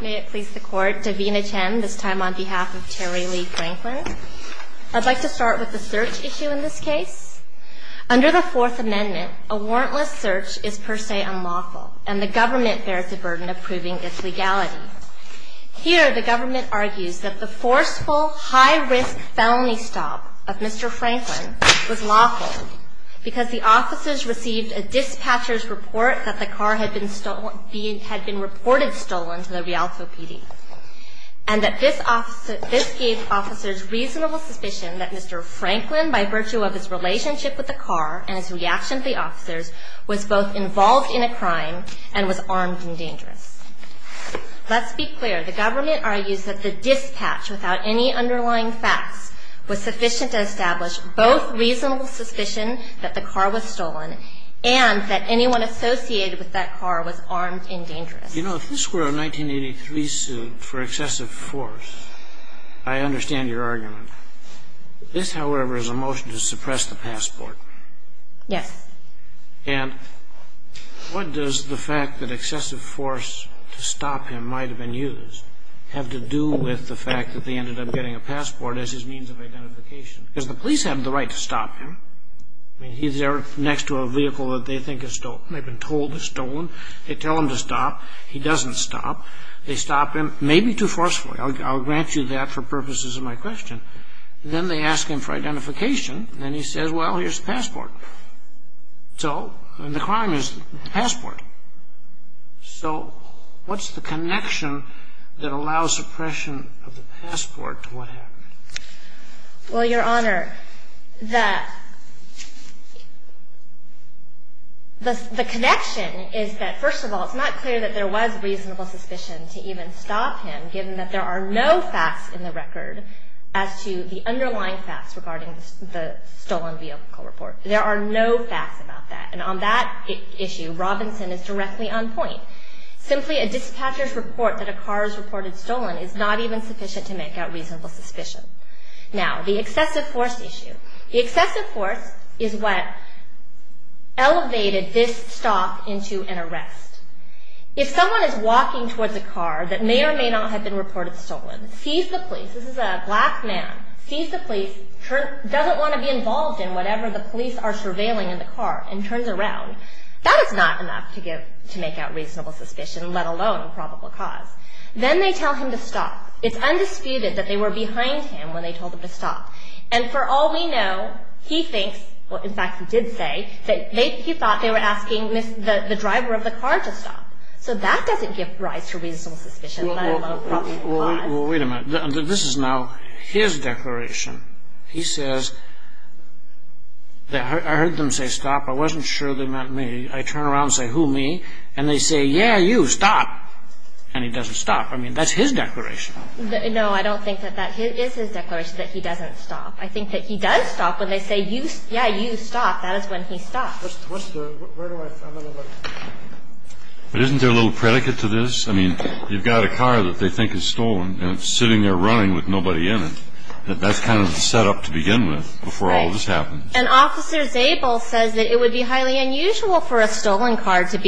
May it please the Court, Davina Chen, this time on behalf of Terry Lee Franklin. I'd like to start with the search issue in this case. Under the Fourth Amendment, a warrantless search is per se unlawful, and the government bears the burden of proving its legality. Here, the government argues that the forceful, high-risk felony stop of Mr. Franklin was lawful because the officers received a dispatcher's report that the car had been reported stolen to the Rialto PD, and that this gave officers reasonable suspicion that Mr. Franklin, by virtue of his relationship with the car and his reaction to the officers, was both involved in a crime and was armed and dangerous. Let's be clear. The government argues that the dispatch, without any underlying facts, was sufficient to establish both reasonable suspicion that the car was stolen and that anyone associated with that car was armed and dangerous. You know, if this were a 1983 suit for excessive force, I understand your argument. This, however, is a motion to suppress the passport. Yes. And what does the fact that excessive force to stop him might have been used have to do with the fact that they ended up getting a passport as his means of identification? Because the police have the right to stop him. I mean, he's there next to a vehicle that they think has been told is stolen. They tell him to stop. He doesn't stop. They stop him, maybe too forcefully. I'll grant you that for purposes of my question. Then they ask him for identification. So the crime is the passport. So what's the connection that allows suppression of the passport to what happened? Well, Your Honor, the connection is that, first of all, it's not clear that there was reasonable suspicion to even stop him, given that there are no facts in the record as to the underlying facts regarding the stolen vehicle report. There are no facts about that. And on that issue, Robinson is directly on point. Simply a dispatcher's report that a car is reported stolen is not even sufficient to make out reasonable suspicion. Now, the excessive force issue. The excessive force is what elevated this stop into an arrest. If someone is walking towards a car that may or may not have been reported stolen, sees the police, this is a black man, sees the police, doesn't want to be involved in whatever the police are surveilling in the car, and turns around, that is not enough to make out reasonable suspicion, let alone probable cause. Then they tell him to stop. It's undisputed that they were behind him when they told him to stop. And for all we know, he thinks, well, in fact, he did say, that he thought they were asking the driver of the car to stop. So that doesn't give rise to reasonable suspicion, let alone probable cause. Well, wait a minute. This is now his declaration. He says, I heard them say stop. I wasn't sure they meant me. I turn around and say, who, me? And they say, yeah, you, stop. And he doesn't stop. I mean, that's his declaration. No, I don't think that that is his declaration, that he doesn't stop. I think that he does stop when they say, yeah, you, stop. That is when he stops. But isn't there a little predicate to this? I mean, you've got a car that they think is stolen, and it's sitting there running with nobody in it. That's kind of the setup to begin with before all this happens. And Officer Zabel says that it would be highly unusual for a stolen car to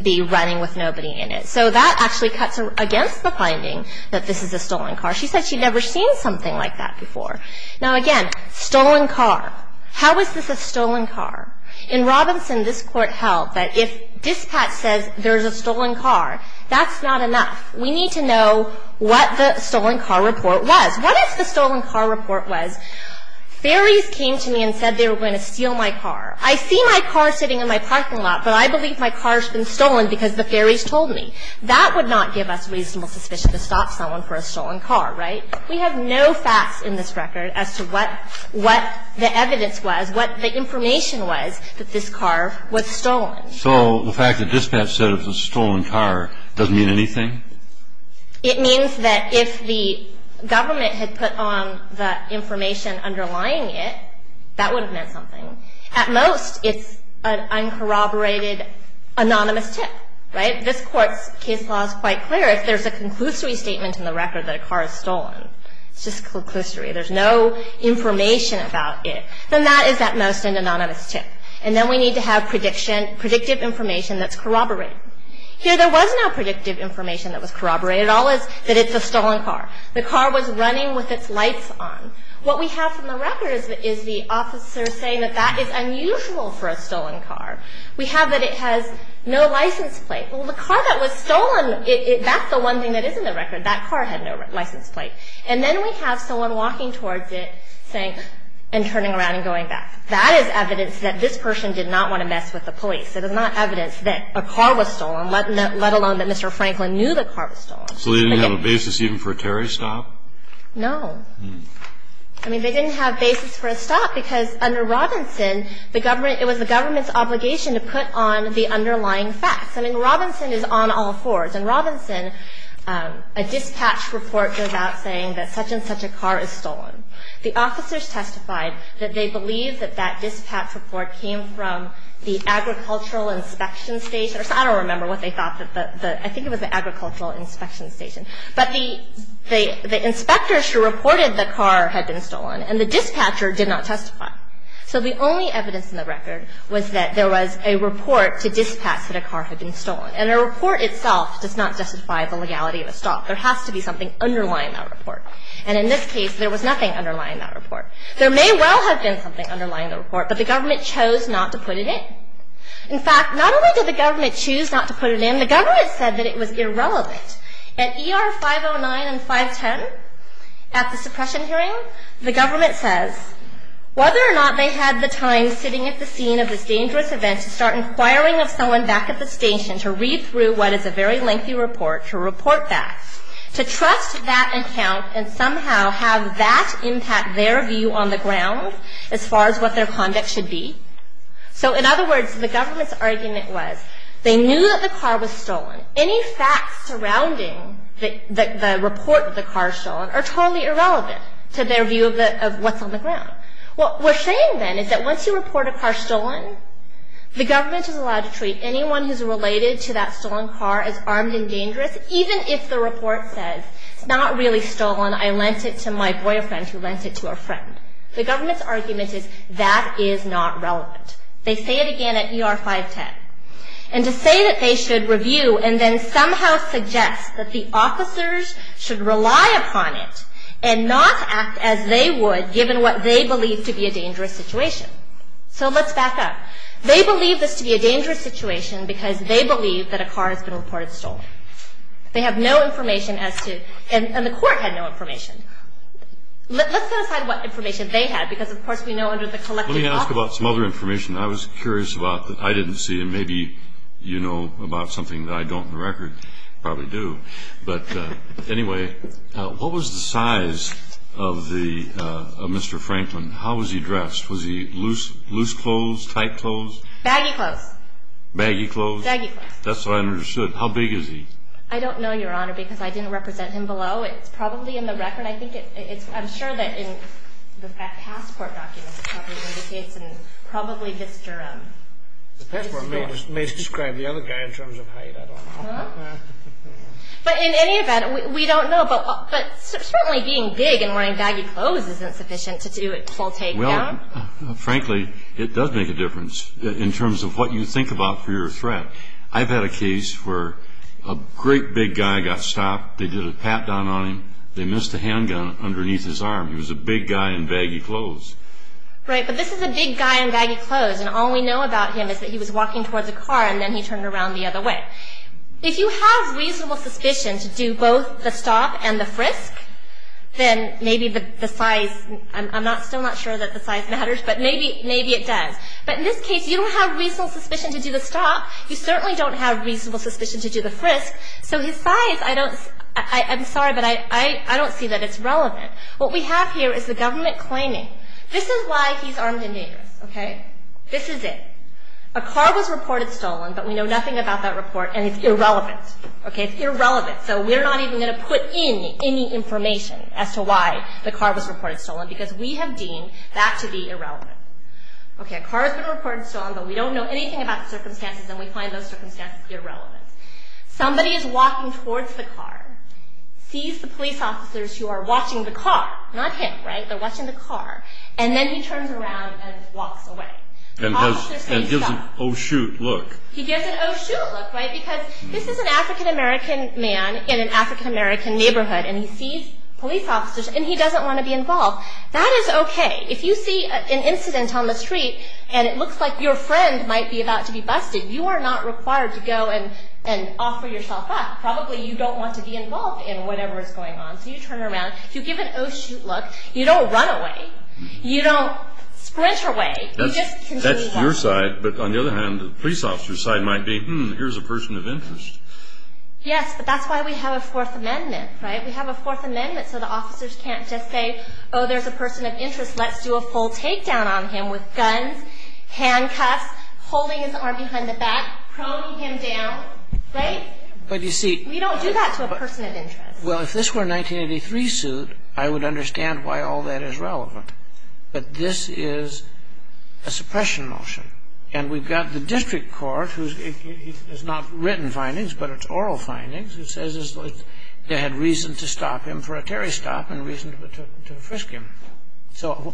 be running with nobody in it. So that actually cuts against the finding that this is a stolen car. She said she'd never seen something like that before. Now, again, stolen car. How is this a stolen car? In Robinson, this Court held that if dispatch says there's a stolen car, that's not enough. We need to know what the stolen car report was. What if the stolen car report was ferries came to me and said they were going to steal my car? I see my car sitting in my parking lot, but I believe my car's been stolen because the ferries told me. That would not give us reasonable suspicion to stop someone for a stolen car, right? We have no facts in this record as to what the evidence was, what the information was that this car was stolen. So the fact that dispatch said it was a stolen car doesn't mean anything? It means that if the government had put on the information underlying it, that would have meant something. At most, it's an uncorroborated anonymous tip, right? This Court's case law is quite clear. If there's a conclusory statement in the record that a car is stolen, it's just conclusory. There's no information about it. Then that is, at most, an anonymous tip. And then we need to have prediction, predictive information that's corroborated. Here, there was no predictive information that was corroborated. All is that it's a stolen car. The car was running with its lights on. What we have from the record is the officer saying that that is unusual for a stolen car. We have that it has no license plate. Well, the car that was stolen, that's the one thing that is in the record. That car had no license plate. And then we have someone walking towards it saying, and turning around and going back. That is evidence that this person did not want to mess with the police. It is not evidence that a car was stolen, let alone that Mr. Franklin knew the car was stolen. So they didn't have a basis even for a Terry stop? No. I mean, they didn't have basis for a stop because under Robinson, the government It was the government's obligation to put on the underlying facts. I mean, Robinson is on all fours. In Robinson, a dispatch report goes out saying that such and such a car is stolen. The officers testified that they believe that that dispatch report came from the agricultural inspection station. I don't remember what they thought. I think it was the agricultural inspection station. But the inspectors who reported the car had been stolen, and the dispatcher did not testify. So the only evidence in the record was that there was a report to dispatch that a car had been stolen. And the report itself does not justify the legality of a stop. There has to be something underlying that report. And in this case, there was nothing underlying that report. There may well have been something underlying the report, but the government chose not to put it in. In fact, not only did the government choose not to put it in, the government said that it was irrelevant. At ER 509 and 510, at the suppression hearing, the government says, Whether or not they had the time sitting at the scene of this dangerous event to start inquiring of someone back at the station to read through what is a very lengthy report, to report that, to trust that account and somehow have that impact their view on the ground as far as what their conduct should be. So in other words, the government's argument was they knew that the car was stolen. Any facts surrounding the report of the car stolen are totally irrelevant to their view of what's on the ground. What we're saying then is that once you report a car stolen, the government is allowed to treat anyone who's related to that stolen car as armed and dangerous, even if the report says it's not really stolen, I lent it to my boyfriend who lent it to a friend. The government's argument is that is not relevant. They say it again at ER 510. And to say that they should review and then somehow suggest that the officers should rely upon it and not act as they would given what they believe to be a dangerous situation. So let's back up. They believe this to be a dangerous situation because they believe that a car has been reported stolen. They have no information as to, and the court had no information. Let's set aside what information they had because, of course, we know under the collective law. Let me ask about some other information I was curious about that I didn't see and maybe you know about something that I don't in the record, probably do. But anyway, what was the size of Mr. Franklin? How was he dressed? Was he loose clothes, tight clothes? Baggy clothes. Baggy clothes? Baggy clothes. That's what I understood. How big is he? I don't know, Your Honor, because I didn't represent him below. It's probably in the record. I'm sure that in the passport documents it probably indicates and probably Mr. The passport may describe the other guy in terms of height. I don't know. But in any event, we don't know. But certainly being big and wearing baggy clothes isn't sufficient to do a full take down. Well, frankly, it does make a difference in terms of what you think about for your threat. I've had a case where a great big guy got stopped. They did a pat down on him. They missed a handgun underneath his arm. He was a big guy in baggy clothes. Right, but this is a big guy in baggy clothes, and all we know about him is that he was walking towards a car and then he turned around the other way. If you have reasonable suspicion to do both the stop and the frisk, then maybe the size, I'm still not sure that the size matters, but maybe it does. But in this case, you don't have reasonable suspicion to do the stop. You certainly don't have reasonable suspicion to do the frisk. So his size, I'm sorry, but I don't see that it's relevant. What we have here is the government claiming. This is why he's armed and dangerous. Okay? This is it. A car was reported stolen, but we know nothing about that report, and it's irrelevant. Okay? It's irrelevant, so we're not even going to put in any information as to why the car was reported stolen because we have deemed that to be irrelevant. Okay, a car has been reported stolen, but we don't know anything about the circumstances, and we find those circumstances irrelevant. Somebody is walking towards the car, sees the police officers who are watching the car, not him, right? They're watching the car, and then he turns around and walks away. And gives an oh, shoot look. He gives an oh, shoot look, right? Because this is an African-American man in an African-American neighborhood, and he sees police officers, and he doesn't want to be involved. That is okay. If you see an incident on the street, and it looks like your friend might be about to be busted, you are not required to go and offer yourself up. Probably you don't want to be involved in whatever is going on, so you turn around. You give an oh, shoot look. You don't run away. You don't sprint away. That's your side, but on the other hand, the police officer's side might be, hmm, here's a person of interest. Yes, but that's why we have a Fourth Amendment, right? We have a Fourth Amendment so the officers can't just say, oh, there's a person of interest. Let's do a full takedown on him with guns, handcuffs, holding his arm behind the back, proning him down, right? We don't do that to a person of interest. Well, if this were a 1983 suit, I would understand why all that is relevant. But this is a suppression motion, and we've got the district court, it's not written findings, but it's oral findings. It says they had reason to stop him for a Terry stop and reason to frisk him. So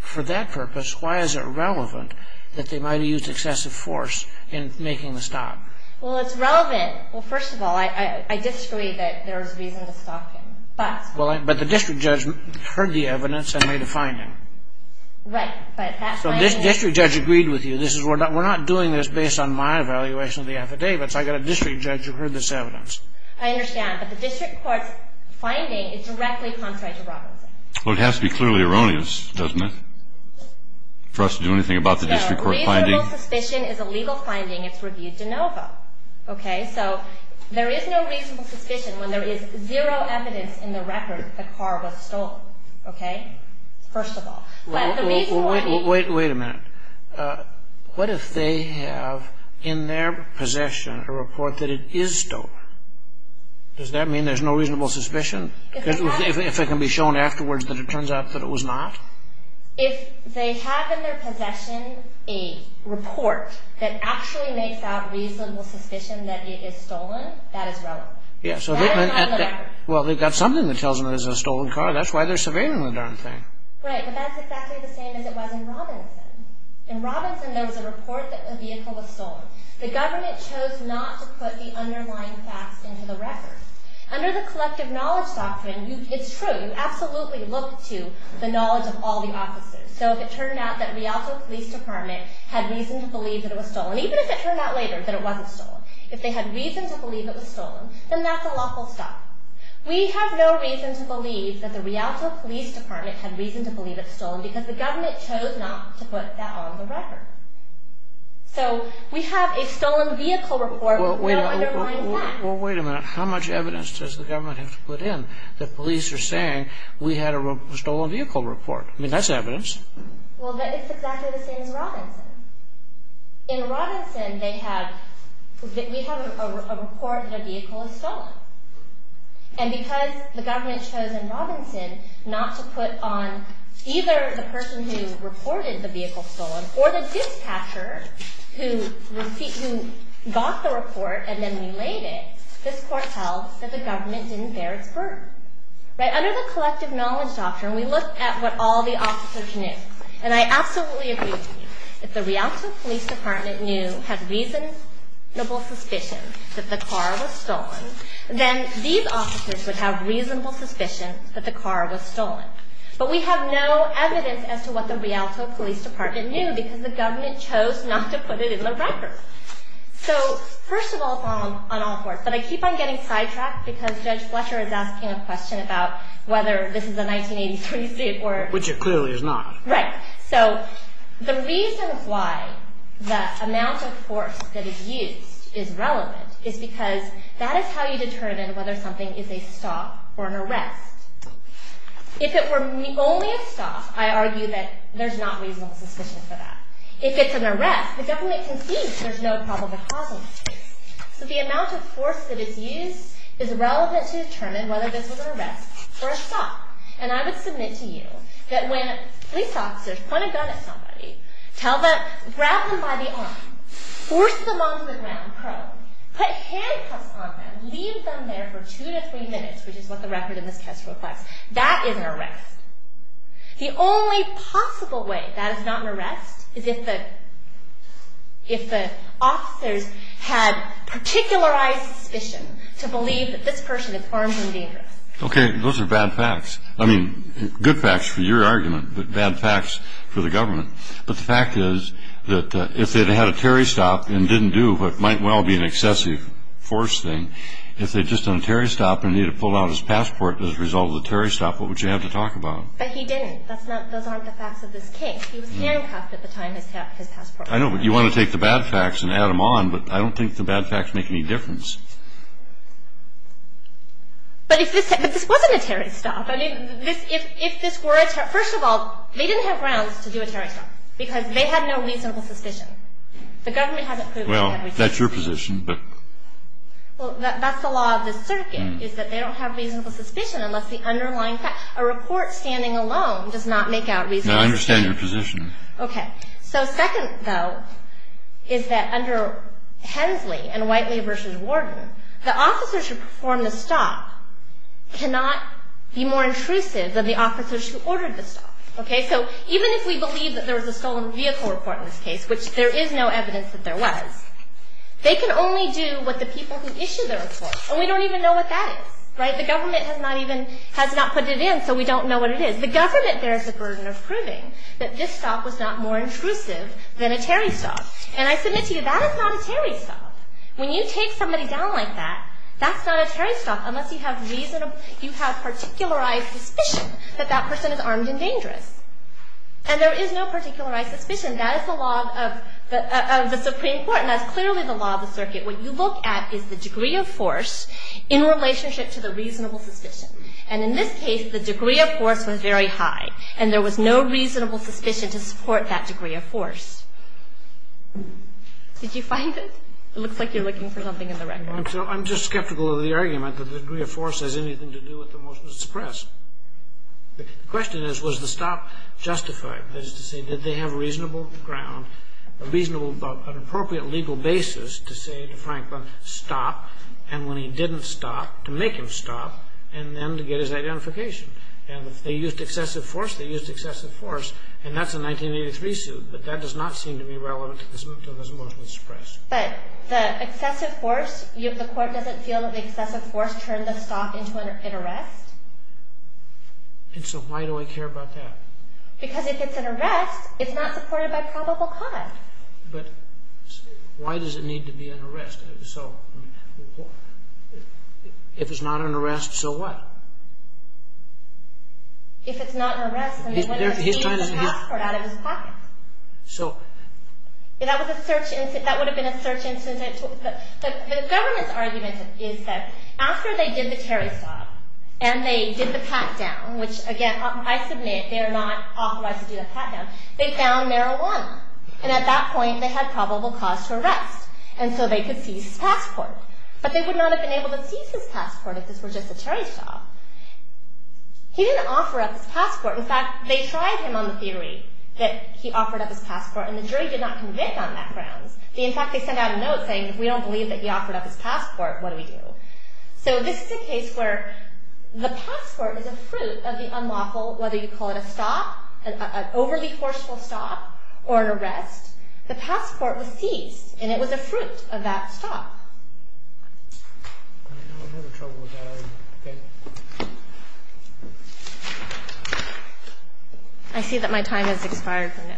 for that purpose, why is it relevant that they might have used excessive force in making the stop? Well, it's relevant. Well, first of all, I disagree that there was reason to stop him. But the district judge heard the evidence and made a finding. Right. So this district judge agreed with you. We're not doing this based on my evaluation of the affidavits. I've got a district judge who heard this evidence. I understand, but the district court's finding is directly contrary to Robinson. Well, it has to be clearly erroneous, doesn't it, for us to do anything about the district court finding? No, reasonable suspicion is a legal finding. It's reviewed de novo, okay? And so there is no reasonable suspicion when there is zero evidence in the record that the car was stolen, okay? First of all. Wait a minute. What if they have in their possession a report that it is stolen? Does that mean there's no reasonable suspicion? If it can be shown afterwards that it turns out that it was not? If they have in their possession a report that actually makes out reasonable suspicion that it is stolen, that is relevant. That is not in the record. Well, they've got something that tells them it was a stolen car. That's why they're surveilling the darn thing. Right, but that's exactly the same as it was in Robinson. In Robinson, there was a report that the vehicle was stolen. The government chose not to put the underlying facts into the record. Under the collective knowledge doctrine, it's true. You absolutely look to the knowledge of all the offices. So if it turned out that the Rialto Police Department had reason to believe that it was stolen, even if it turned out later that it wasn't stolen, if they had reason to believe it was stolen, then that's a lawful stop. We have no reason to believe that the Rialto Police Department had reason to believe it was stolen because the government chose not to put that on the record. So we have a stolen vehicle report with no underlying facts. Well, wait a minute. How much evidence does the government have to put in that police are saying we had a stolen vehicle report? I mean, that's evidence. Well, it's exactly the same as Robinson. In Robinson, we have a report that a vehicle was stolen. And because the government chose in Robinson not to put on either the person who reported the vehicle stolen or the dispatcher who got the report and then relayed it, this court held that the government didn't bear its burden. Under the collective knowledge doctrine, we look at what all the officers knew. And I absolutely agree with you. If the Rialto Police Department knew, had reasonable suspicion that the car was stolen, then these officers would have reasonable suspicion that the car was stolen. But we have no evidence as to what the Rialto Police Department knew because the government chose not to put it in the record. So, first of all, on all fours, but I keep on getting sidetracked because Judge Fletcher is asking a question about whether this is a 1983 suit or... Which it clearly is not. Right. So the reason why the amount of force that is used is relevant is because that is how you determine whether something is a stop or an arrest. If it were only a stop, I argue that there's not reasonable suspicion for that. If it's an arrest, the government can see there's no probable cause in this case. So the amount of force that is used is relevant to determine whether this was an arrest or a stop. And I would submit to you that when police officers point a gun at somebody, grab them by the arm, force them onto the ground prone, put handcuffs on them, leave them there for two to three minutes, which is what the record in this case requests, that is an arrest. The only possible way that is not an arrest is if the officers had particularized suspicion to believe that this person is armed and dangerous. Okay, those are bad facts. I mean, good facts for your argument, but bad facts for the government. But the fact is that if they'd had a Terry stop and didn't do what might well be an excessive force thing, if they'd just done a Terry stop and needed to pull out his passport as a result of the Terry stop, what would you have to talk about? But he didn't. Those aren't the facts of this case. He was handcuffed at the time, his passport. I know, but you want to take the bad facts and add them on, but I don't think the bad facts make any difference. But if this wasn't a Terry stop, I mean, if this were a Terry stop, first of all, they didn't have grounds to do a Terry stop. Because they had no reasonable suspicion. The government hasn't proved they had reasonable suspicion. Well, that's your position, but... Well, that's the law of this circuit, is that they don't have reasonable suspicion unless the underlying facts. A report standing alone does not make out reasonable suspicion. No, I understand your position. Okay. So second, though, is that under Hensley and Whiteley v. Warden, the officers who performed the stop cannot be more intrusive than the officers who ordered the stop. Okay? So even if we believe that there was a stolen vehicle report in this case, which there is no evidence that there was, they can only do what the people who issued the report. And we don't even know what that is. Right? The government has not even, has not put it in, so we don't know what it is. The government bears the burden of proving that this stop was not more intrusive than a Terry stop. And I submit to you, that is not a Terry stop. When you take somebody down like that, that's not a Terry stop unless you have reasonable, you have particularized suspicion that that person is armed and dangerous. And there is no particularized suspicion. That is the law of the Supreme Court, and that's clearly the law of the circuit. What you look at is the degree of force in relationship to the reasonable suspicion. And in this case, the degree of force was very high, and there was no reasonable suspicion to support that degree of force. Did you find it? It looks like you're looking for something in the record. I'm just skeptical of the argument that the degree of force has anything to do with the motion to suppress. The question is, was the stop justified? That is to say, did they have reasonable ground, a reasonable, an appropriate legal basis to say to Franklin, stop, and when he didn't stop, to make him stop, and then to get his identification. And if they used excessive force, they used excessive force, and that's a 1983 suit. But the excessive force, the court doesn't feel that the excessive force turned the stop into an arrest? And so why do I care about that? Because if it's an arrest, it's not supported by probable cause. But why does it need to be an arrest? So if it's not an arrest, so what? If it's not an arrest, then he wouldn't have taken the passport out of his pocket. That would have been a search incident. The government's argument is that after they did the Terry stop, and they did the pat down, which again, I submit they are not authorized to do the pat down, they found marijuana, and at that point they had probable cause to arrest, and so they could seize his passport. But they would not have been able to seize his passport if this were just a Terry stop. He didn't offer up his passport. In fact, they tried him on the theory that he offered up his passport, and the jury did not convict on that grounds. In fact, they sent out a note saying if we don't believe that he offered up his passport, what do we do? So this is a case where the passport is a fruit of the unlawful, whether you call it a stop, an overly forceful stop, or an arrest. The passport was seized, and it was a fruit of that stop. I see that my time has expired for now.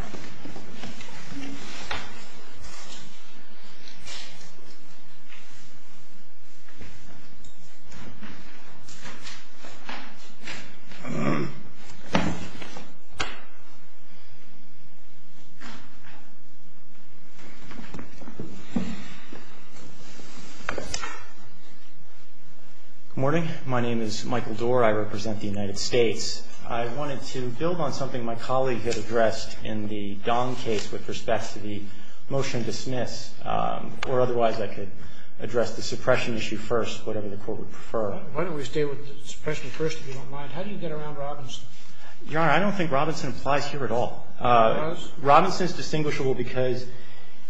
Good morning. My name is Michael Doerr. I represent the United States. I wanted to build on something my colleague had addressed in the Dong case with respect to the motion to dismiss, or otherwise I could address the suppression issue first, whatever the Court would prefer. Why don't we stay with the suppression first, if you don't mind. How do you get around Robinson? Your Honor, I don't think Robinson applies here at all. He does? Robinson is distinguishable because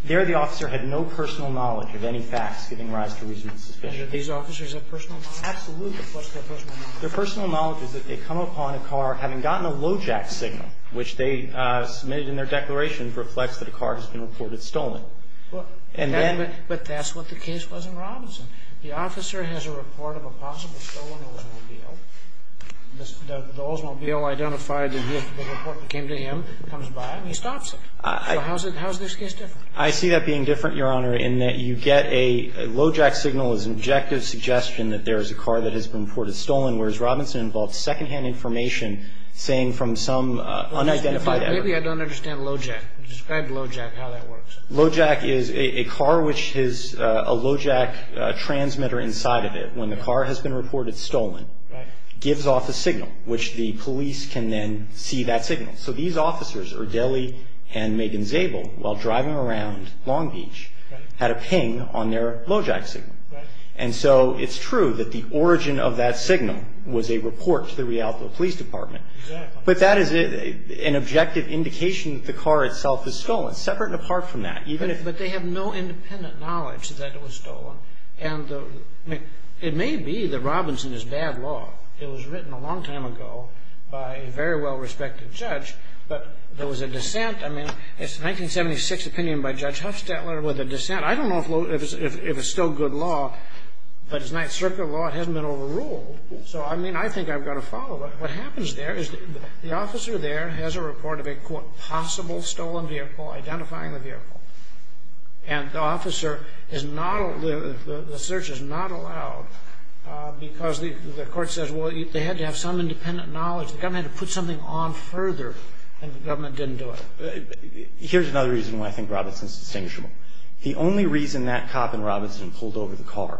there the officer had no personal knowledge of any facts giving rise to reasonable suspicion. And did these officers have personal knowledge? Absolutely. What's their personal knowledge? Their personal knowledge is that they come upon a car having gotten a lojack signal, which they submitted in their declarations reflects that a car has been reported stolen. But that's what the case was in Robinson. The officer has a report of a possible stolen Oldsmobile. The Oldsmobile identified the report that came to him, comes by, and he stops it. So how is this case different? I see that being different, Your Honor, in that you get a lojack signal as an objective suggestion that there is a car that has been reported stolen, whereas Robinson involved secondhand information saying from some unidentified evidence. Maybe I don't understand lojack. Describe lojack, how that works. Lojack is a car which has a lojack transmitter inside of it. When the car has been reported stolen, gives off a signal, which the police can then see that signal. So these officers, Urdeli and Megan Zabel, while driving around Long Beach, had a ping on their lojack signal. And so it's true that the origin of that signal was a report to the Rialto police department. But that is an objective indication that the car itself is stolen, separate and apart from that. But they have no independent knowledge that it was stolen. And it may be that Robinson is bad law. It was written a long time ago by a very well-respected judge. But there was a dissent. I mean, it's a 1976 opinion by Judge Huffstetler with a dissent. I don't know if it's still good law. But it's Ninth Circuit law. It hasn't been overruled. So, I mean, I think I've got to follow it. What happens there is the officer there has a report of a, quote, possible stolen vehicle, identifying the vehicle. And the officer is not, the search is not allowed because the court says, well, they had to have some independent knowledge. The government had to put something on further. And the government didn't do it. Here's another reason why I think Robinson is distinguishable. The only reason that cop in Robinson pulled over the car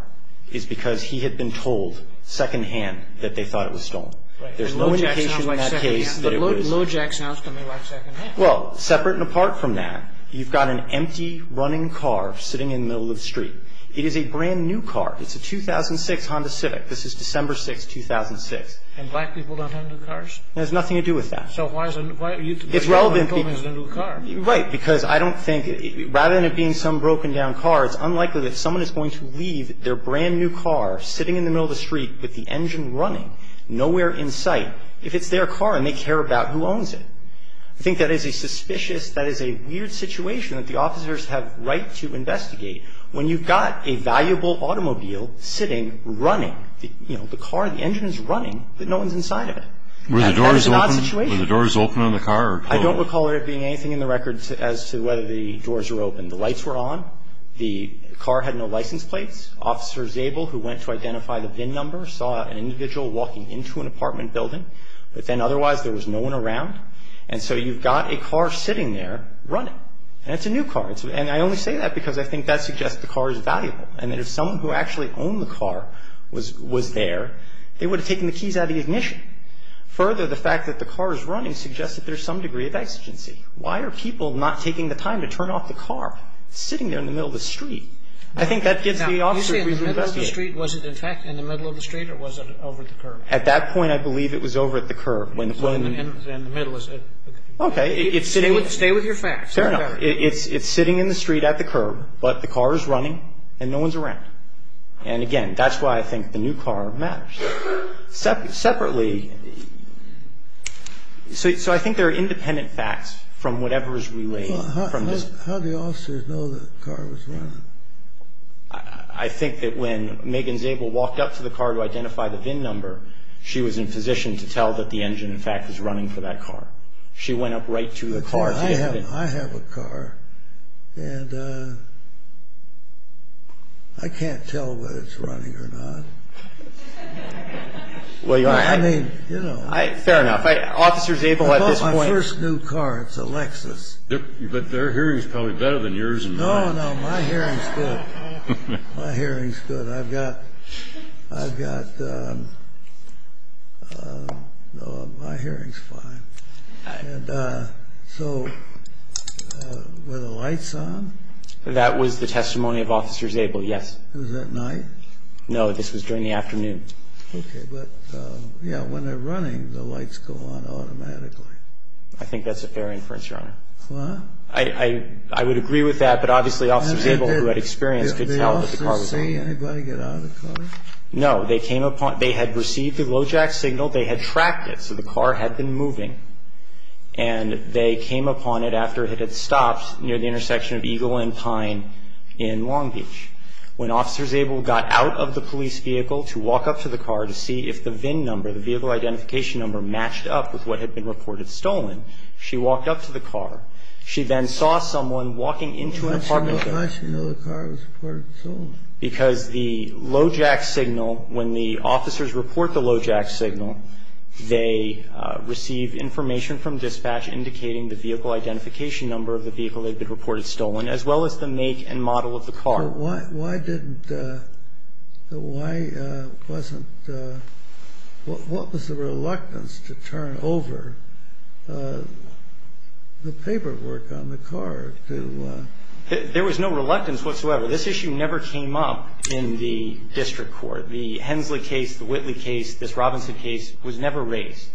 is because he had been told secondhand that they thought it was stolen. There's no indication in that case that it was. But lojack sounds to me like secondhand. Well, separate and apart from that, you've got an empty running car sitting in the middle of the street. It is a brand-new car. It's a 2006 Honda Civic. This is December 6th, 2006. And black people don't have new cars? It has nothing to do with that. So why is it? It's relevant to people. Right. Because I don't think, rather than it being some broken-down car, it's unlikely that someone is going to leave their brand-new car sitting in the middle of the street with the engine running, nowhere in sight, if it's their car and they care about who owns it. I think that is a suspicious, that is a weird situation that the officers have right to investigate when you've got a valuable automobile sitting, running. You know, the car, the engine is running, but no one's inside of it. That is an odd situation. Were the doors open on the car? I don't recall there being anything in the record as to whether the doors were open. The lights were on. The car had no license plates. Officer Zabel, who went to identify the VIN number, saw an individual walking into an apartment building. But then, otherwise, there was no one around. And so you've got a car sitting there, running. And it's a new car. And I only say that because I think that suggests the car is valuable and that if of the ignition. Further, the fact that the car is running suggests that there's some degree of exigency. Why are people not taking the time to turn off the car? It's sitting there in the middle of the street. I think that gives the officers reason to investigate. Now, you say in the middle of the street. Was it in fact in the middle of the street or was it over at the curb? At that point, I believe it was over at the curb. In the middle. Okay. Stay with your facts. Fair enough. It's sitting in the street at the curb, but the car is running and no one's around. And, again, that's why I think the new car matters. Separately, so I think there are independent facts from whatever is related. How do the officers know the car was running? I think that when Megan Zabel walked up to the car to identify the VIN number, she was in position to tell that the engine, in fact, was running for that car. She went up right to the car. I have a car, and I can't tell whether it's running or not. I mean, you know. Fair enough. Officer Zabel at this point. I bought my first new car. It's a Lexus. But their hearing is probably better than yours. No, no. My hearing's good. My hearing's good. I've got my hearing's fine. And so were the lights on? That was the testimony of Officer Zabel, yes. Was that night? No, this was during the afternoon. Okay. But, yeah, when they're running, the lights go on automatically. I think that's a fair inference, Your Honor. What? I would agree with that, but obviously Officer Zabel, who had experience, could tell that the car was on. Did the officers see anybody get out of the car? No. They came upon it. They had received the low-jack signal. They had tracked it, so the car had been moving. And they came upon it after it had stopped near the intersection of Eagle and Pine in Long Beach. When Officer Zabel got out of the police vehicle to walk up to the car to see if the VIN number, the vehicle identification number, matched up with what had been reported stolen, she walked up to the car. She then saw someone walking into an apartment building. Why should we know the car was reported stolen? Because the low-jack signal, when the officers report the low-jack signal, they receive information from dispatch indicating the vehicle identification number of the vehicle that had been reported stolen, as well as the make and model of the car. But why wasn't the reluctance to turn over the paperwork on the car? There was no reluctance whatsoever. This issue never came up in the district court. The Hensley case, the Whitley case, this Robinson case was never raised.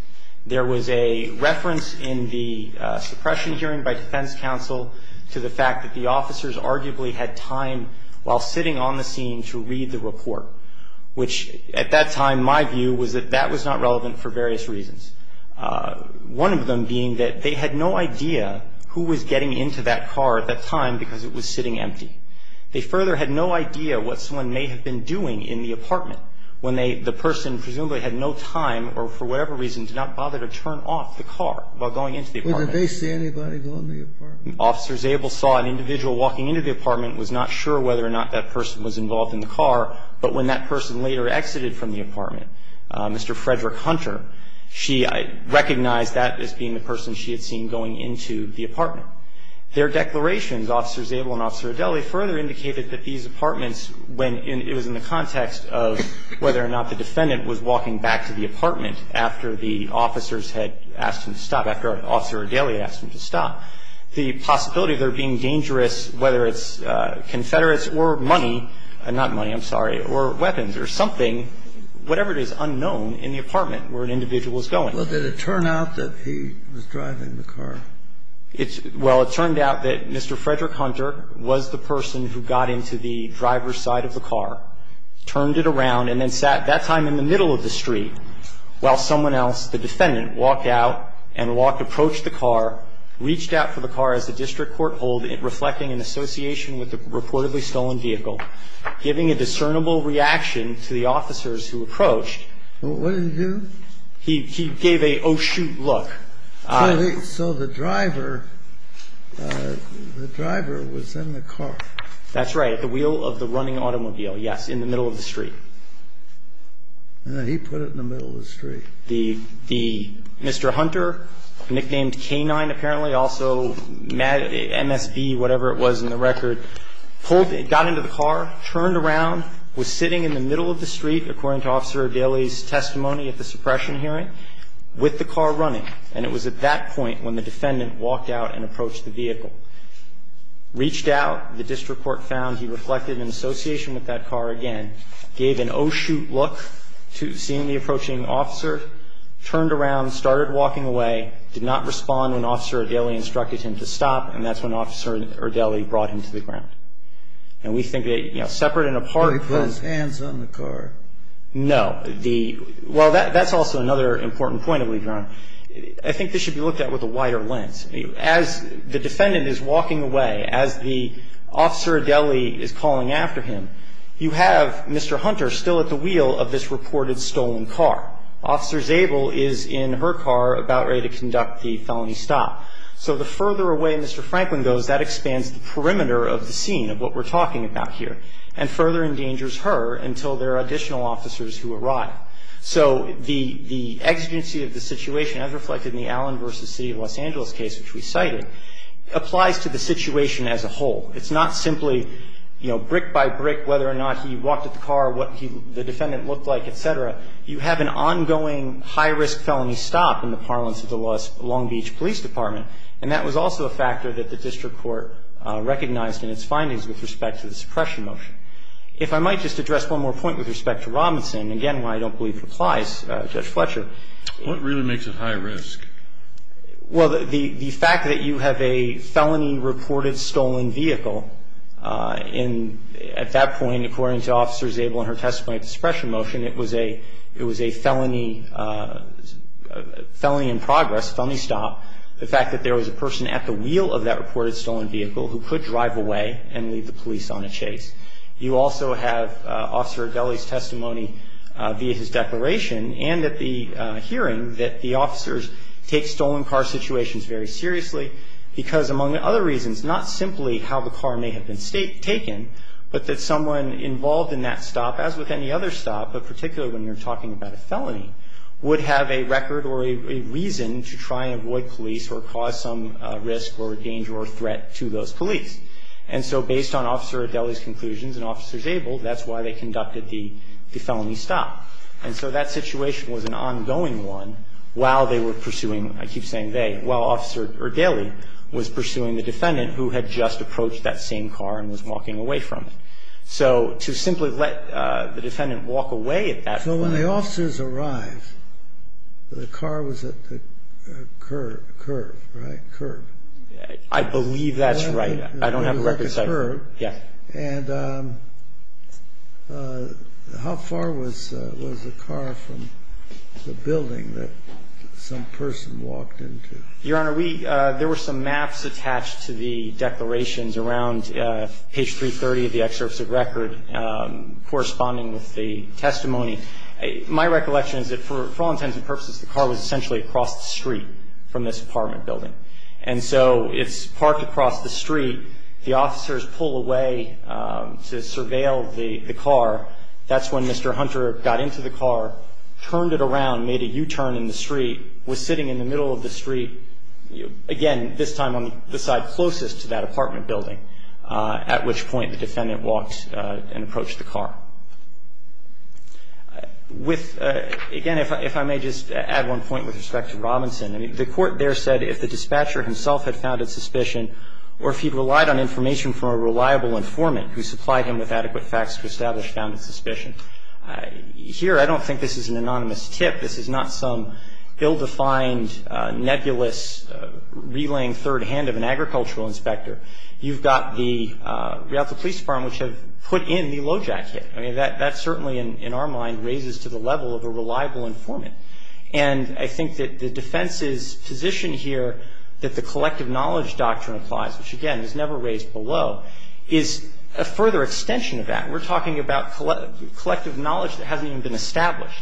There was a reference in the suppression hearing by defense counsel to the fact that the officers arguably had time while sitting on the scene to read the report, which at that time, my view was that that was not relevant for various reasons, one of them being that they had no idea who was getting into that car at that time because it was sitting empty. They further had no idea what someone may have been doing in the apartment when the person presumably had no time or for whatever reason did not bother to turn off the car while going into the apartment. Wait, did they see anybody go in the apartment? Officer Zabel saw an individual walking into the apartment, was not sure whether or not that person was involved in the car. But when that person later exited from the apartment, Mr. Frederick Hunter, she recognized that as being the person she had seen going into the apartment. Their declarations, Officer Zabel and Officer Adeli, further indicated that these apartments, when it was in the context of whether or not the defendant was walking back to the apartment after the officers had asked him to stop, after Officer Adeli had asked him to stop, the possibility of there being dangerous, whether it's Confederates or money, not money, I'm sorry, or weapons or something, whatever it is, unknown in the apartment where an individual was going. Well, did it turn out that he was driving the car? Well, it turned out that Mr. Frederick Hunter was the person who got into the driver's side of the car, turned it around, and then sat that time in the middle of the street while someone else, the defendant, walked out and walked, approached the car, reached out for the car as a district courthold reflecting an association with the reportedly stolen vehicle, giving a discernible reaction to the officers who approached. What did he do? He gave an oh, shoot look. So the driver, the driver was in the car? That's right, at the wheel of the running automobile, yes, in the middle of the street. He put it in the middle of the street. The Mr. Hunter, nicknamed K-9 apparently, also MSB, whatever it was in the record, got into the car, turned around, was sitting in the middle of the street, according to Officer Adeli's testimony at the suppression hearing, with the car running. And it was at that point when the defendant walked out and approached the vehicle, reached out, the district court found he reflected an association with that car again, gave an oh, shoot look to seeing the approaching officer, turned around, started walking away, did not respond when Officer Adeli instructed him to stop, and that's when Officer Adeli brought him to the ground. And we think that, you know, separate and apart. But he put his hands on the car. No. Well, that's also another important point to leave you on. I think this should be looked at with a wider lens. As the defendant is walking away, as the Officer Adeli is calling after him, you have Mr. Hunter still at the wheel of this reported stolen car. Officer Zabel is in her car about ready to conduct the felony stop. So the further away Mr. Franklin goes, that expands the perimeter of the scene, of what we're talking about here, and further endangers her until there are additional officers who arrive. So the exigency of the situation, as reflected in the Allen v. City of Los Angeles case, which we cited, applies to the situation as a whole. It's not simply, you know, brick by brick, whether or not he walked at the car, what the defendant looked like, et cetera. You have an ongoing high-risk felony stop in the parlance of the Long Beach Police Department, and that was also a factor that the district court recognized in its findings with respect to the suppression motion. If I might just address one more point with respect to Robinson, again, why I don't believe it applies, Judge Fletcher. What really makes it high risk? Well, the fact that you have a felony reported stolen vehicle, and at that point, according to Officer Zabel and her testimony at the suppression motion, it was a felony in progress, a felony stop. The fact that there was a person at the wheel of that reported stolen vehicle who could drive away and leave the police on a chase. You also have Officer Adeli's testimony via his declaration and at the hearing that the officers take stolen car situations very seriously because, among other reasons, not simply how the car may have been taken, but that someone involved in that stop, as with any other stop, but particularly when you're talking about a felony, would have a record or a reason to try and avoid police or cause some risk or danger or threat to those police. And so based on Officer Adeli's conclusions and Officer Zabel, that's why they conducted the felony stop. And so that situation was an ongoing one while they were pursuing, I keep saying they, while Officer Adeli was pursuing the defendant who had just approached that same car and was walking away from it. So to simply let the defendant walk away at that point. When the officers arrived, the car was at the curb, right? Curb. I believe that's right. I don't have a record. It was at the curb. Yes. And how far was the car from the building that some person walked into? Your Honor, there were some maps attached to the declarations around page 330 of the excerpts of record and corresponding with the testimony. My recollection is that for all intents and purposes, the car was essentially across the street from this apartment building. And so it's parked across the street. The officers pull away to surveil the car. That's when Mr. Hunter got into the car, turned it around, made a U-turn in the street, was sitting in the middle of the street, again, this time on the side closest to that apartment building, at which point the defendant walked and approached the car. With – again, if I may just add one point with respect to Robinson. I mean, the court there said if the dispatcher himself had founded suspicion or if he relied on information from a reliable informant who supplied him with adequate facts to establish founded suspicion. Here, I don't think this is an anonymous tip. This is not some ill-defined, nebulous, relaying third hand of an agricultural inspector. You've got the Rialto Police Department, which have put in the LOJAC hit. I mean, that certainly, in our mind, raises to the level of a reliable informant. And I think that the defense's position here that the collective knowledge doctrine applies, which, again, is never raised below, is a further extension of that. We're talking about collective knowledge that hasn't even been established.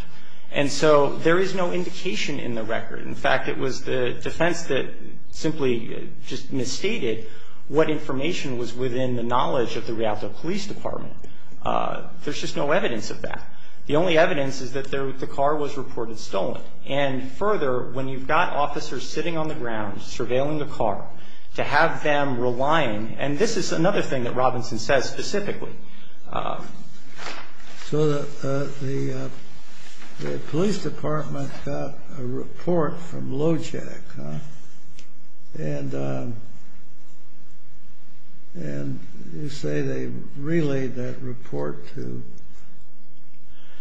And so there is no indication in the record. In fact, it was the defense that simply just misstated what information was within the knowledge of the Rialto Police Department. There's just no evidence of that. The only evidence is that the car was reported stolen. And further, when you've got officers sitting on the ground surveilling the car, to have them relying – and this is another thing that Robinson says specifically. So the police department got a report from LOJAC. And you say they relayed that report to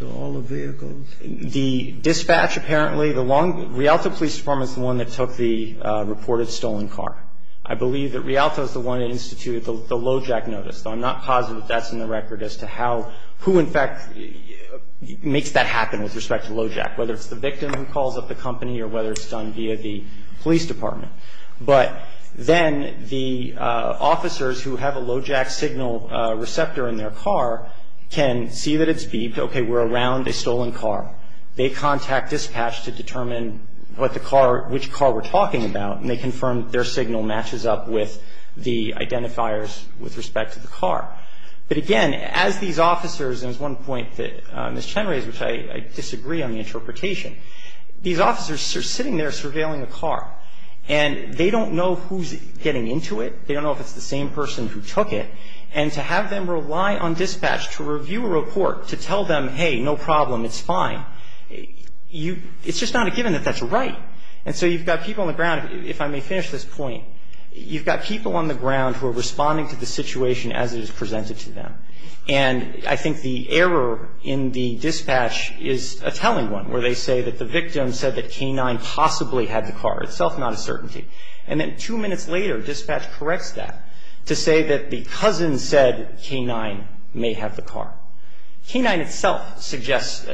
all the vehicles? The dispatch, apparently, the long – Rialto Police Department is the one that took the reported stolen car. I believe that Rialto is the one that instituted the LOJAC notice. I'm not positive that's in the record as to how – who, in fact, makes that happen with respect to LOJAC, whether it's the victim who calls up the company or whether it's done via the police department. But then the officers who have a LOJAC signal receptor in their car can see that it's beeped. Okay, we're around a stolen car. They contact dispatch to determine what the car – which car we're talking about. And they confirm their signal matches up with the identifiers with respect to the car. But, again, as these officers – and there's one point that Ms. Chen raised, which I disagree on the interpretation. These officers are sitting there surveilling a car. And they don't know who's getting into it. They don't know if it's the same person who took it. And to have them rely on dispatch to review a report, to tell them, hey, no problem, it's fine, you – it's just not a given that that's right. And so you've got people on the ground – if I may finish this point. You've got people on the ground who are responding to the situation as it is presented to them. And I think the error in the dispatch is a telling one, where they say that the victim said that K-9 possibly had the car, itself not a certainty. And then two minutes later, dispatch corrects that to say that the cousin said K-9 may have the car. K-9 itself suggests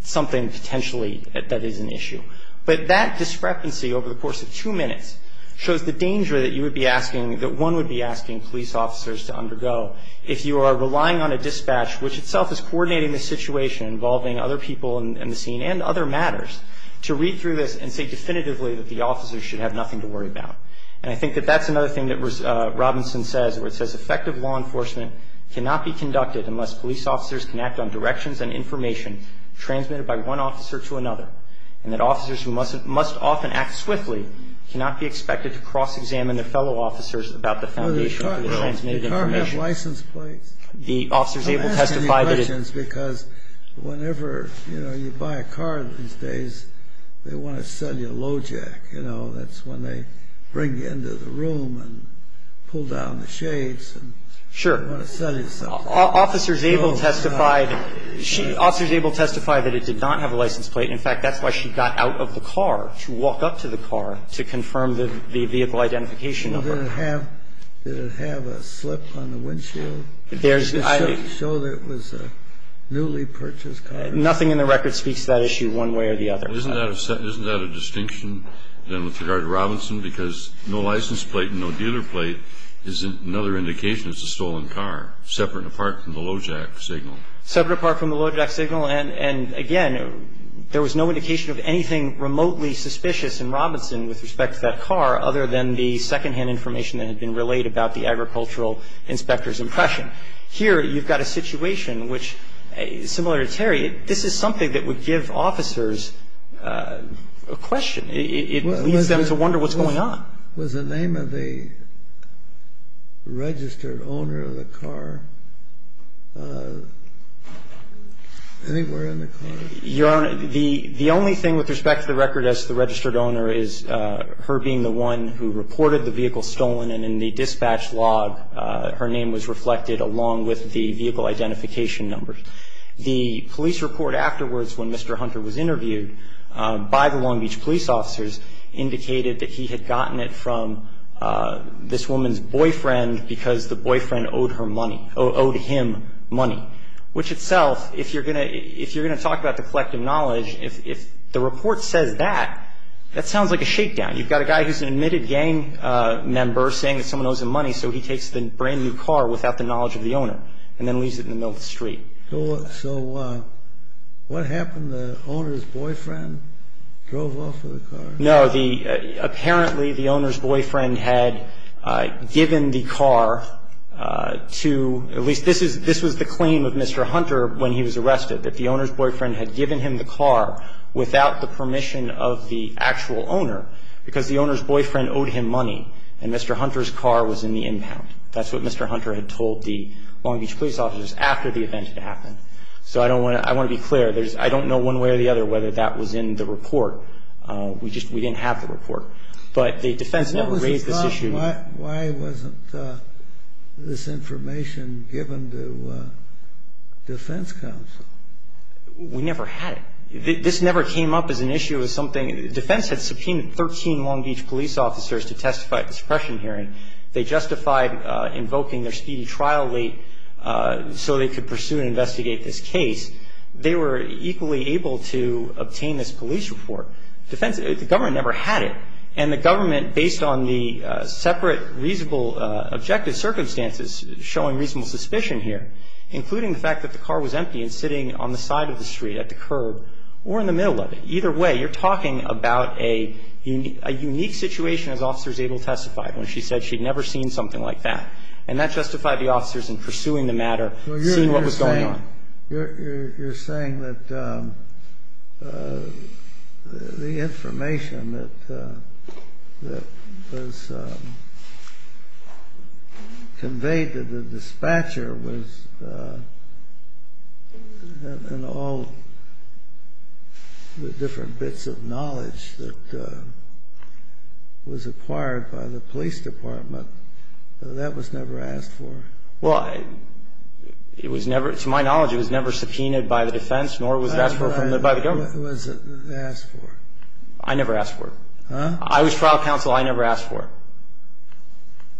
something potentially that is an issue. But that discrepancy over the course of two minutes shows the danger that you would be asking – that one would be asking police officers to undergo if you are relying on a dispatch, which itself is coordinating the situation involving other people in the scene and other matters, to read through this and say definitively that the officers should have nothing to worry about. And I think that that's another thing that Robinson says, where it says effective law enforcement cannot be conducted unless police officers can act on directions and information transmitted by one officer to another and that officers who must often act swiftly cannot be expected to cross-examine their fellow officers about the foundation of the transmitted information. The car may have license plates. The officer is able to testify that it – I'm asking you questions because whenever, you know, you buy a car these days, they want to sell you a low jack, you know. That's when they bring you into the room and pull down the shades and – Sure. They want to sell you something. Officer is able to testify that it did not have a license plate. In fact, that's why she got out of the car to walk up to the car to confirm the vehicle identification number. Did it have a slip on the windshield? There's – To show that it was a newly purchased car. Nothing in the record speaks to that issue one way or the other. Isn't that a distinction then with regard to Robinson? Because no license plate and no dealer plate is another indication it's a stolen car, separate and apart from the low jack signal. Separate and apart from the low jack signal. And, again, there was no indication of anything remotely suspicious in Robinson with respect to that car other than the secondhand information that had been relayed about the agricultural inspector's impression. Here you've got a situation which, similar to Terry, this is something that would give officers a question. It leads them to wonder what's going on. Was the name of the registered owner of the car anywhere in the car? Your Honor, the only thing with respect to the record as the registered owner is her being the one who reported the vehicle stolen and in the dispatch log her name was reflected along with the vehicle identification numbers. The police report afterwards when Mr. Hunter was interviewed by the Long Beach police officers indicated that he had gotten it from this woman's boyfriend because the boyfriend owed her money – owed him money. Which itself, if you're going to – if you're going to talk about the collective knowledge, if the report says that, that sounds like a shakedown. You've got a guy who's an admitted gang member saying that someone owes him money so he takes the brand-new car without the knowledge of the owner and then leaves it in the middle of the street. So what happened? The owner's boyfriend drove off with the car? No. The – apparently the owner's boyfriend had given the car to – at least this is – this was the claim of Mr. Hunter when he was arrested, that the owner's boyfriend had given him the car without the permission of the actual owner because the owner's boyfriend owed him money and Mr. Hunter's car was in the impound. That's what Mr. Hunter had told the Long Beach police officers after the event had happened. So I don't want to – I want to be clear. There's – I don't know one way or the other whether that was in the report. We just – we didn't have the report. But the defense never raised this issue. Why wasn't this information given to defense counsel? We never had it. This never came up as an issue as something – when they sent 13 Long Beach police officers to testify at the suppression hearing, they justified invoking their speedy trial late so they could pursue and investigate this case. They were equally able to obtain this police report. Defense – the government never had it. And the government, based on the separate reasonable objective circumstances, showing reasonable suspicion here, including the fact that the car was empty and sitting on the side of the street at the curb or in the middle of it. Either way, you're talking about a unique situation as officers able to testify, when she said she'd never seen something like that. And that justified the officers in pursuing the matter, seeing what was going on. You're saying that the information that was conveyed to the dispatcher was – and all the different bits of knowledge that was acquired by the police department, that was never asked for? Well, it was never – to my knowledge, it was never subpoenaed by the defense, nor was it asked for by the government. It was asked for. I never asked for it. Huh? I was trial counsel. I never asked for it.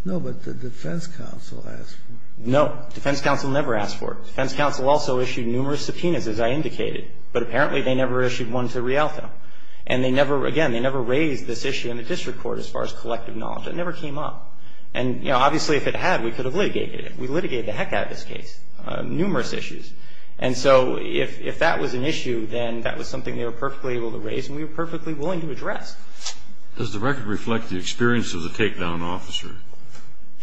No, but the defense counsel asked for it. No. Defense counsel never asked for it. Defense counsel also issued numerous subpoenas, as I indicated. But apparently they never issued one to Rialto. And they never – again, they never raised this issue in the district court as far as collective knowledge. It never came up. And, you know, obviously if it had, we could have litigated it. We litigated the heck out of this case. Numerous issues. And so if that was an issue, then that was something they were perfectly able to raise and we were perfectly willing to address. Does the record reflect the experience of the takedown officer?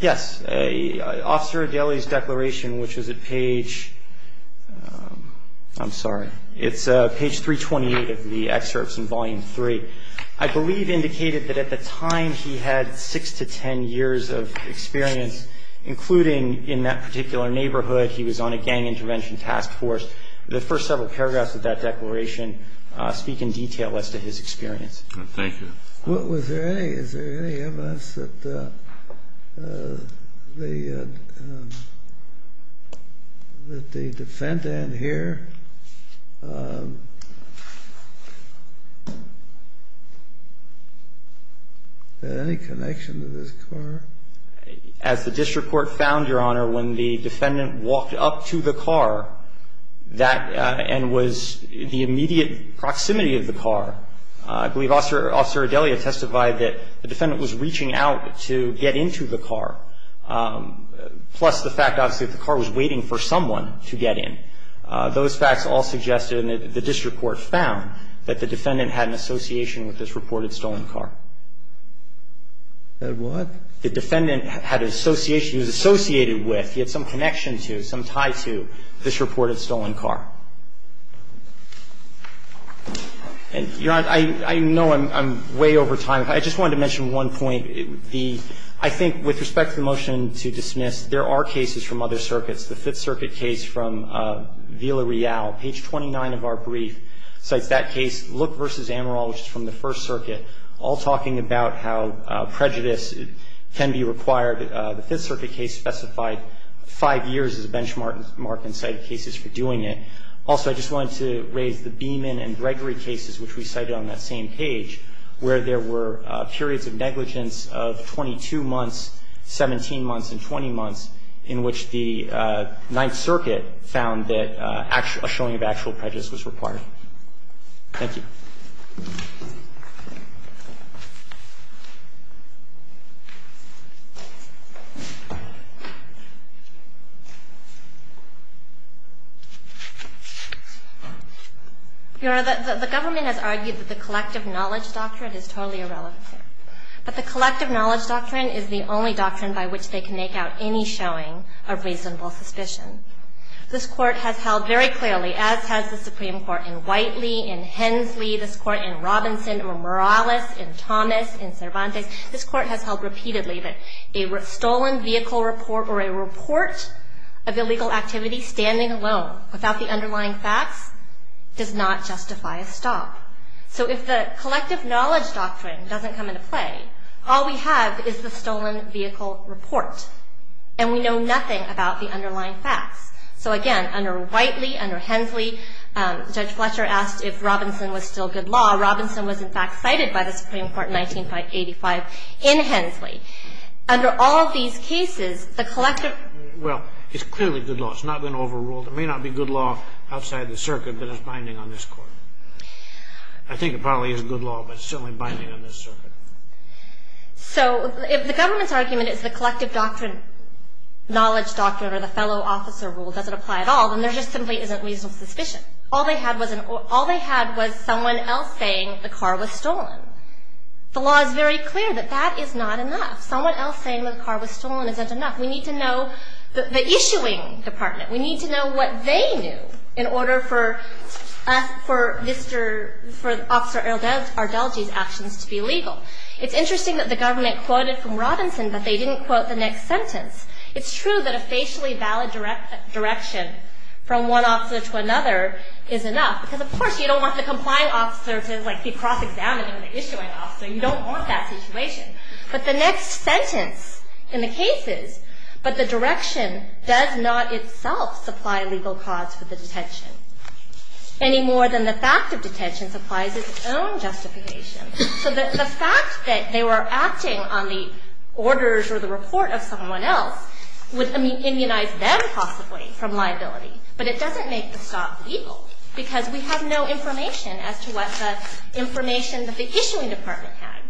Yes. Officer Adeli's declaration, which was at page – I'm sorry. It's page 328 of the excerpts in Volume 3. I believe indicated that at the time he had six to ten years of experience, including in that particular neighborhood. He was on a gang intervention task force. The first several paragraphs of that declaration speak in detail as to his experience. Thank you. Was there any – is there any evidence that the defendant here had any connection to this car? As the district court found, Your Honor, when the defendant walked up to the car, that – and was the immediate proximity of the car. I believe Officer Adeli had testified that the defendant was reaching out to get into the car, plus the fact, obviously, that the car was waiting for someone to get in. Those facts all suggested, and the district court found, that the defendant had an association with this reported stolen car. The what? The defendant had an association. He was associated with. He had some connection to, some tie to, this reported stolen car. Your Honor, I know I'm way over time. I just wanted to mention one point. The – I think with respect to the motion to dismiss, there are cases from other circuits. The Fifth Circuit case from Villa Real, page 29 of our brief, cites that case. Look v. Amaral, which is from the First Circuit, all talking about how prejudice can be required. The Fifth Circuit case specified five years as a benchmark in cited cases for doing Also, I just wanted to raise the Beeman and Gregory cases, which we cited on that same page, where there were periods of negligence of 22 months, 17 months, and 20 months, in which the Ninth Circuit found that a showing of actual prejudice was required. Thank you. Your Honor, the government has argued that the collective knowledge doctrine is totally irrelevant here. But the collective knowledge doctrine is the only doctrine by which they can make out any showing of reasonable suspicion. This Court has held very clearly, as has the Supreme Court in Whiteley, in Hensley, this Court in Robinson, in Morales, in Thomas, in Cervantes, this Court has held repeatedly that a stolen vehicle report or a report of illegal activity standing alone without the underlying facts does not justify a stop. So if the collective knowledge doctrine doesn't come into play, all we have is the stolen vehicle report. And we know nothing about the underlying facts. So again, under Whiteley, under Hensley, Judge Fletcher asked if Robinson was still good law. Robinson was, in fact, cited by the Supreme Court in 1985 in Hensley. Under all of these cases, the collective... Well, it's clearly good law. It's not been overruled. It may not be good law outside the circuit, but it's binding on this Court. I think it probably is good law, but it's certainly binding on this circuit. So if the government's argument is the collective doctrine, knowledge doctrine, or the fellow officer rule doesn't apply at all, then there just simply isn't reasonable suspicion. All they had was someone else saying the car was stolen. The law is very clear that that is not enough. Someone else saying the car was stolen isn't enough. We need to know the issuing department. We need to know what they knew in order for Officer Ardelji's actions to be legal. It's interesting that the government quoted from Robinson, but they didn't quote the next sentence. It's true that a facially valid direction from one officer to another is enough. Because, of course, you don't want the complying officer to be cross-examining the issuing officer. You don't want that situation. But the next sentence in the case is, but the direction does not itself supply legal cause for the detention, any more than the fact of detention supplies its own justification. So the fact that they were acting on the orders or the report of someone else would immunize them, possibly, from liability. But it doesn't make the stop legal, because we have no information as to what the information that the issuing department had.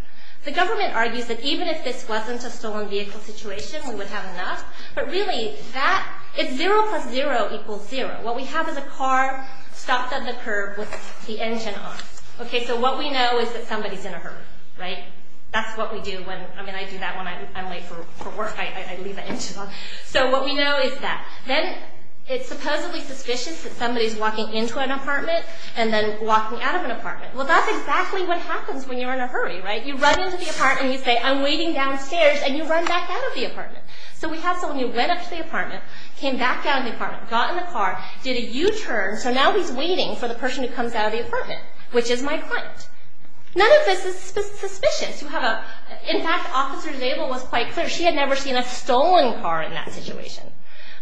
The government argues that even if this wasn't a stolen vehicle situation, we would have enough. But really, it's zero plus zero equals zero. What we have is a car stopped at the curb with the engine on. So what we know is that somebody's in a hurry. That's what we do when I'm late for work, I leave the engine on. So what we know is that. Then it's supposedly suspicious that somebody's walking into an apartment and then walking out of an apartment. Well, that's exactly what happens when you're in a hurry, right? You run into the apartment and you say, I'm waiting downstairs, and you run back out of the apartment. So we have someone who went up to the apartment, came back down to the apartment, got in the car, did a U-turn, so now he's waiting for the person who comes out of the apartment, which is my client. None of this is suspicious. In fact, Officer Zabel was quite clear. She had never seen a stolen car in that situation.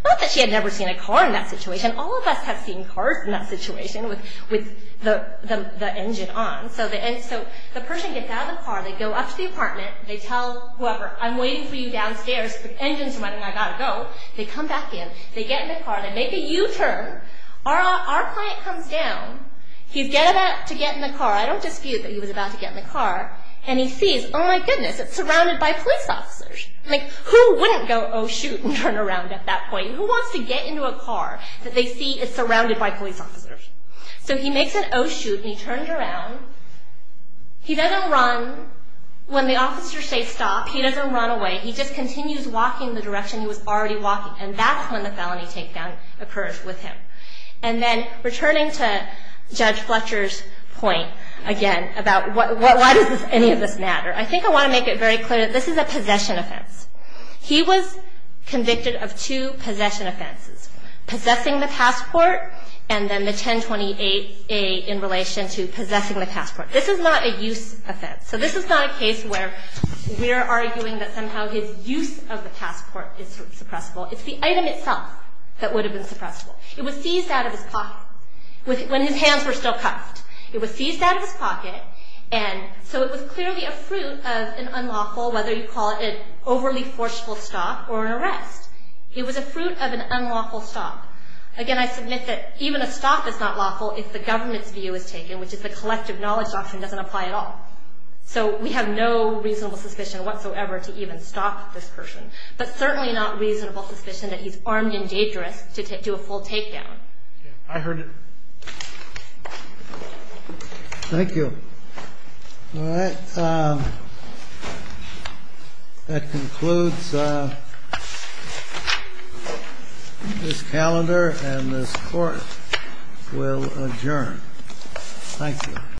Not that she had never seen a car in that situation. All of us have seen cars in that situation with the engine on. So the person gets out of the car, they go up to the apartment, they tell whoever, I'm waiting for you downstairs, the engine's running, I've got to go. They come back in, they get in the car, they make a U-turn, our client comes down, he's about to get in the car, I don't dispute that he was about to get in the car, and he sees, oh my goodness, it's surrounded by police officers. Who wouldn't go, oh shoot, and turn around at that point? Who wants to get into a car that they see is surrounded by police officers? So he makes an oh shoot, and he turns around. He doesn't run. When the officers say stop, he doesn't run away. He just continues walking the direction he was already walking, and that's when the felony takedown occurs with him. And then, returning to Judge Fletcher's point, again, about why does any of this matter, I think I want to make it very clear that this is a possession offense. He was convicted of two possession offenses, possessing the passport, and then the 1028A in relation to possessing the passport. This is not a use offense. So this is not a case where we're arguing that somehow his use of the passport is suppressible. It's the item itself that would have been suppressible. It was seized out of his pocket when his hands were still cuffed. It was seized out of his pocket, and so it was clearly a fruit of an unlawful, whether you call it an overly forceful stop or an arrest, it was a fruit of an unlawful stop. Again, I submit that even a stop is not lawful if the government's view is taken, which is the collective knowledge doctrine doesn't apply at all. So we have no reasonable suspicion whatsoever to even stop this person, but certainly not reasonable suspicion that he's armed and dangerous to do a full takedown. I heard it. Thank you. All right. That concludes this calendar, and this court will adjourn. Thank you.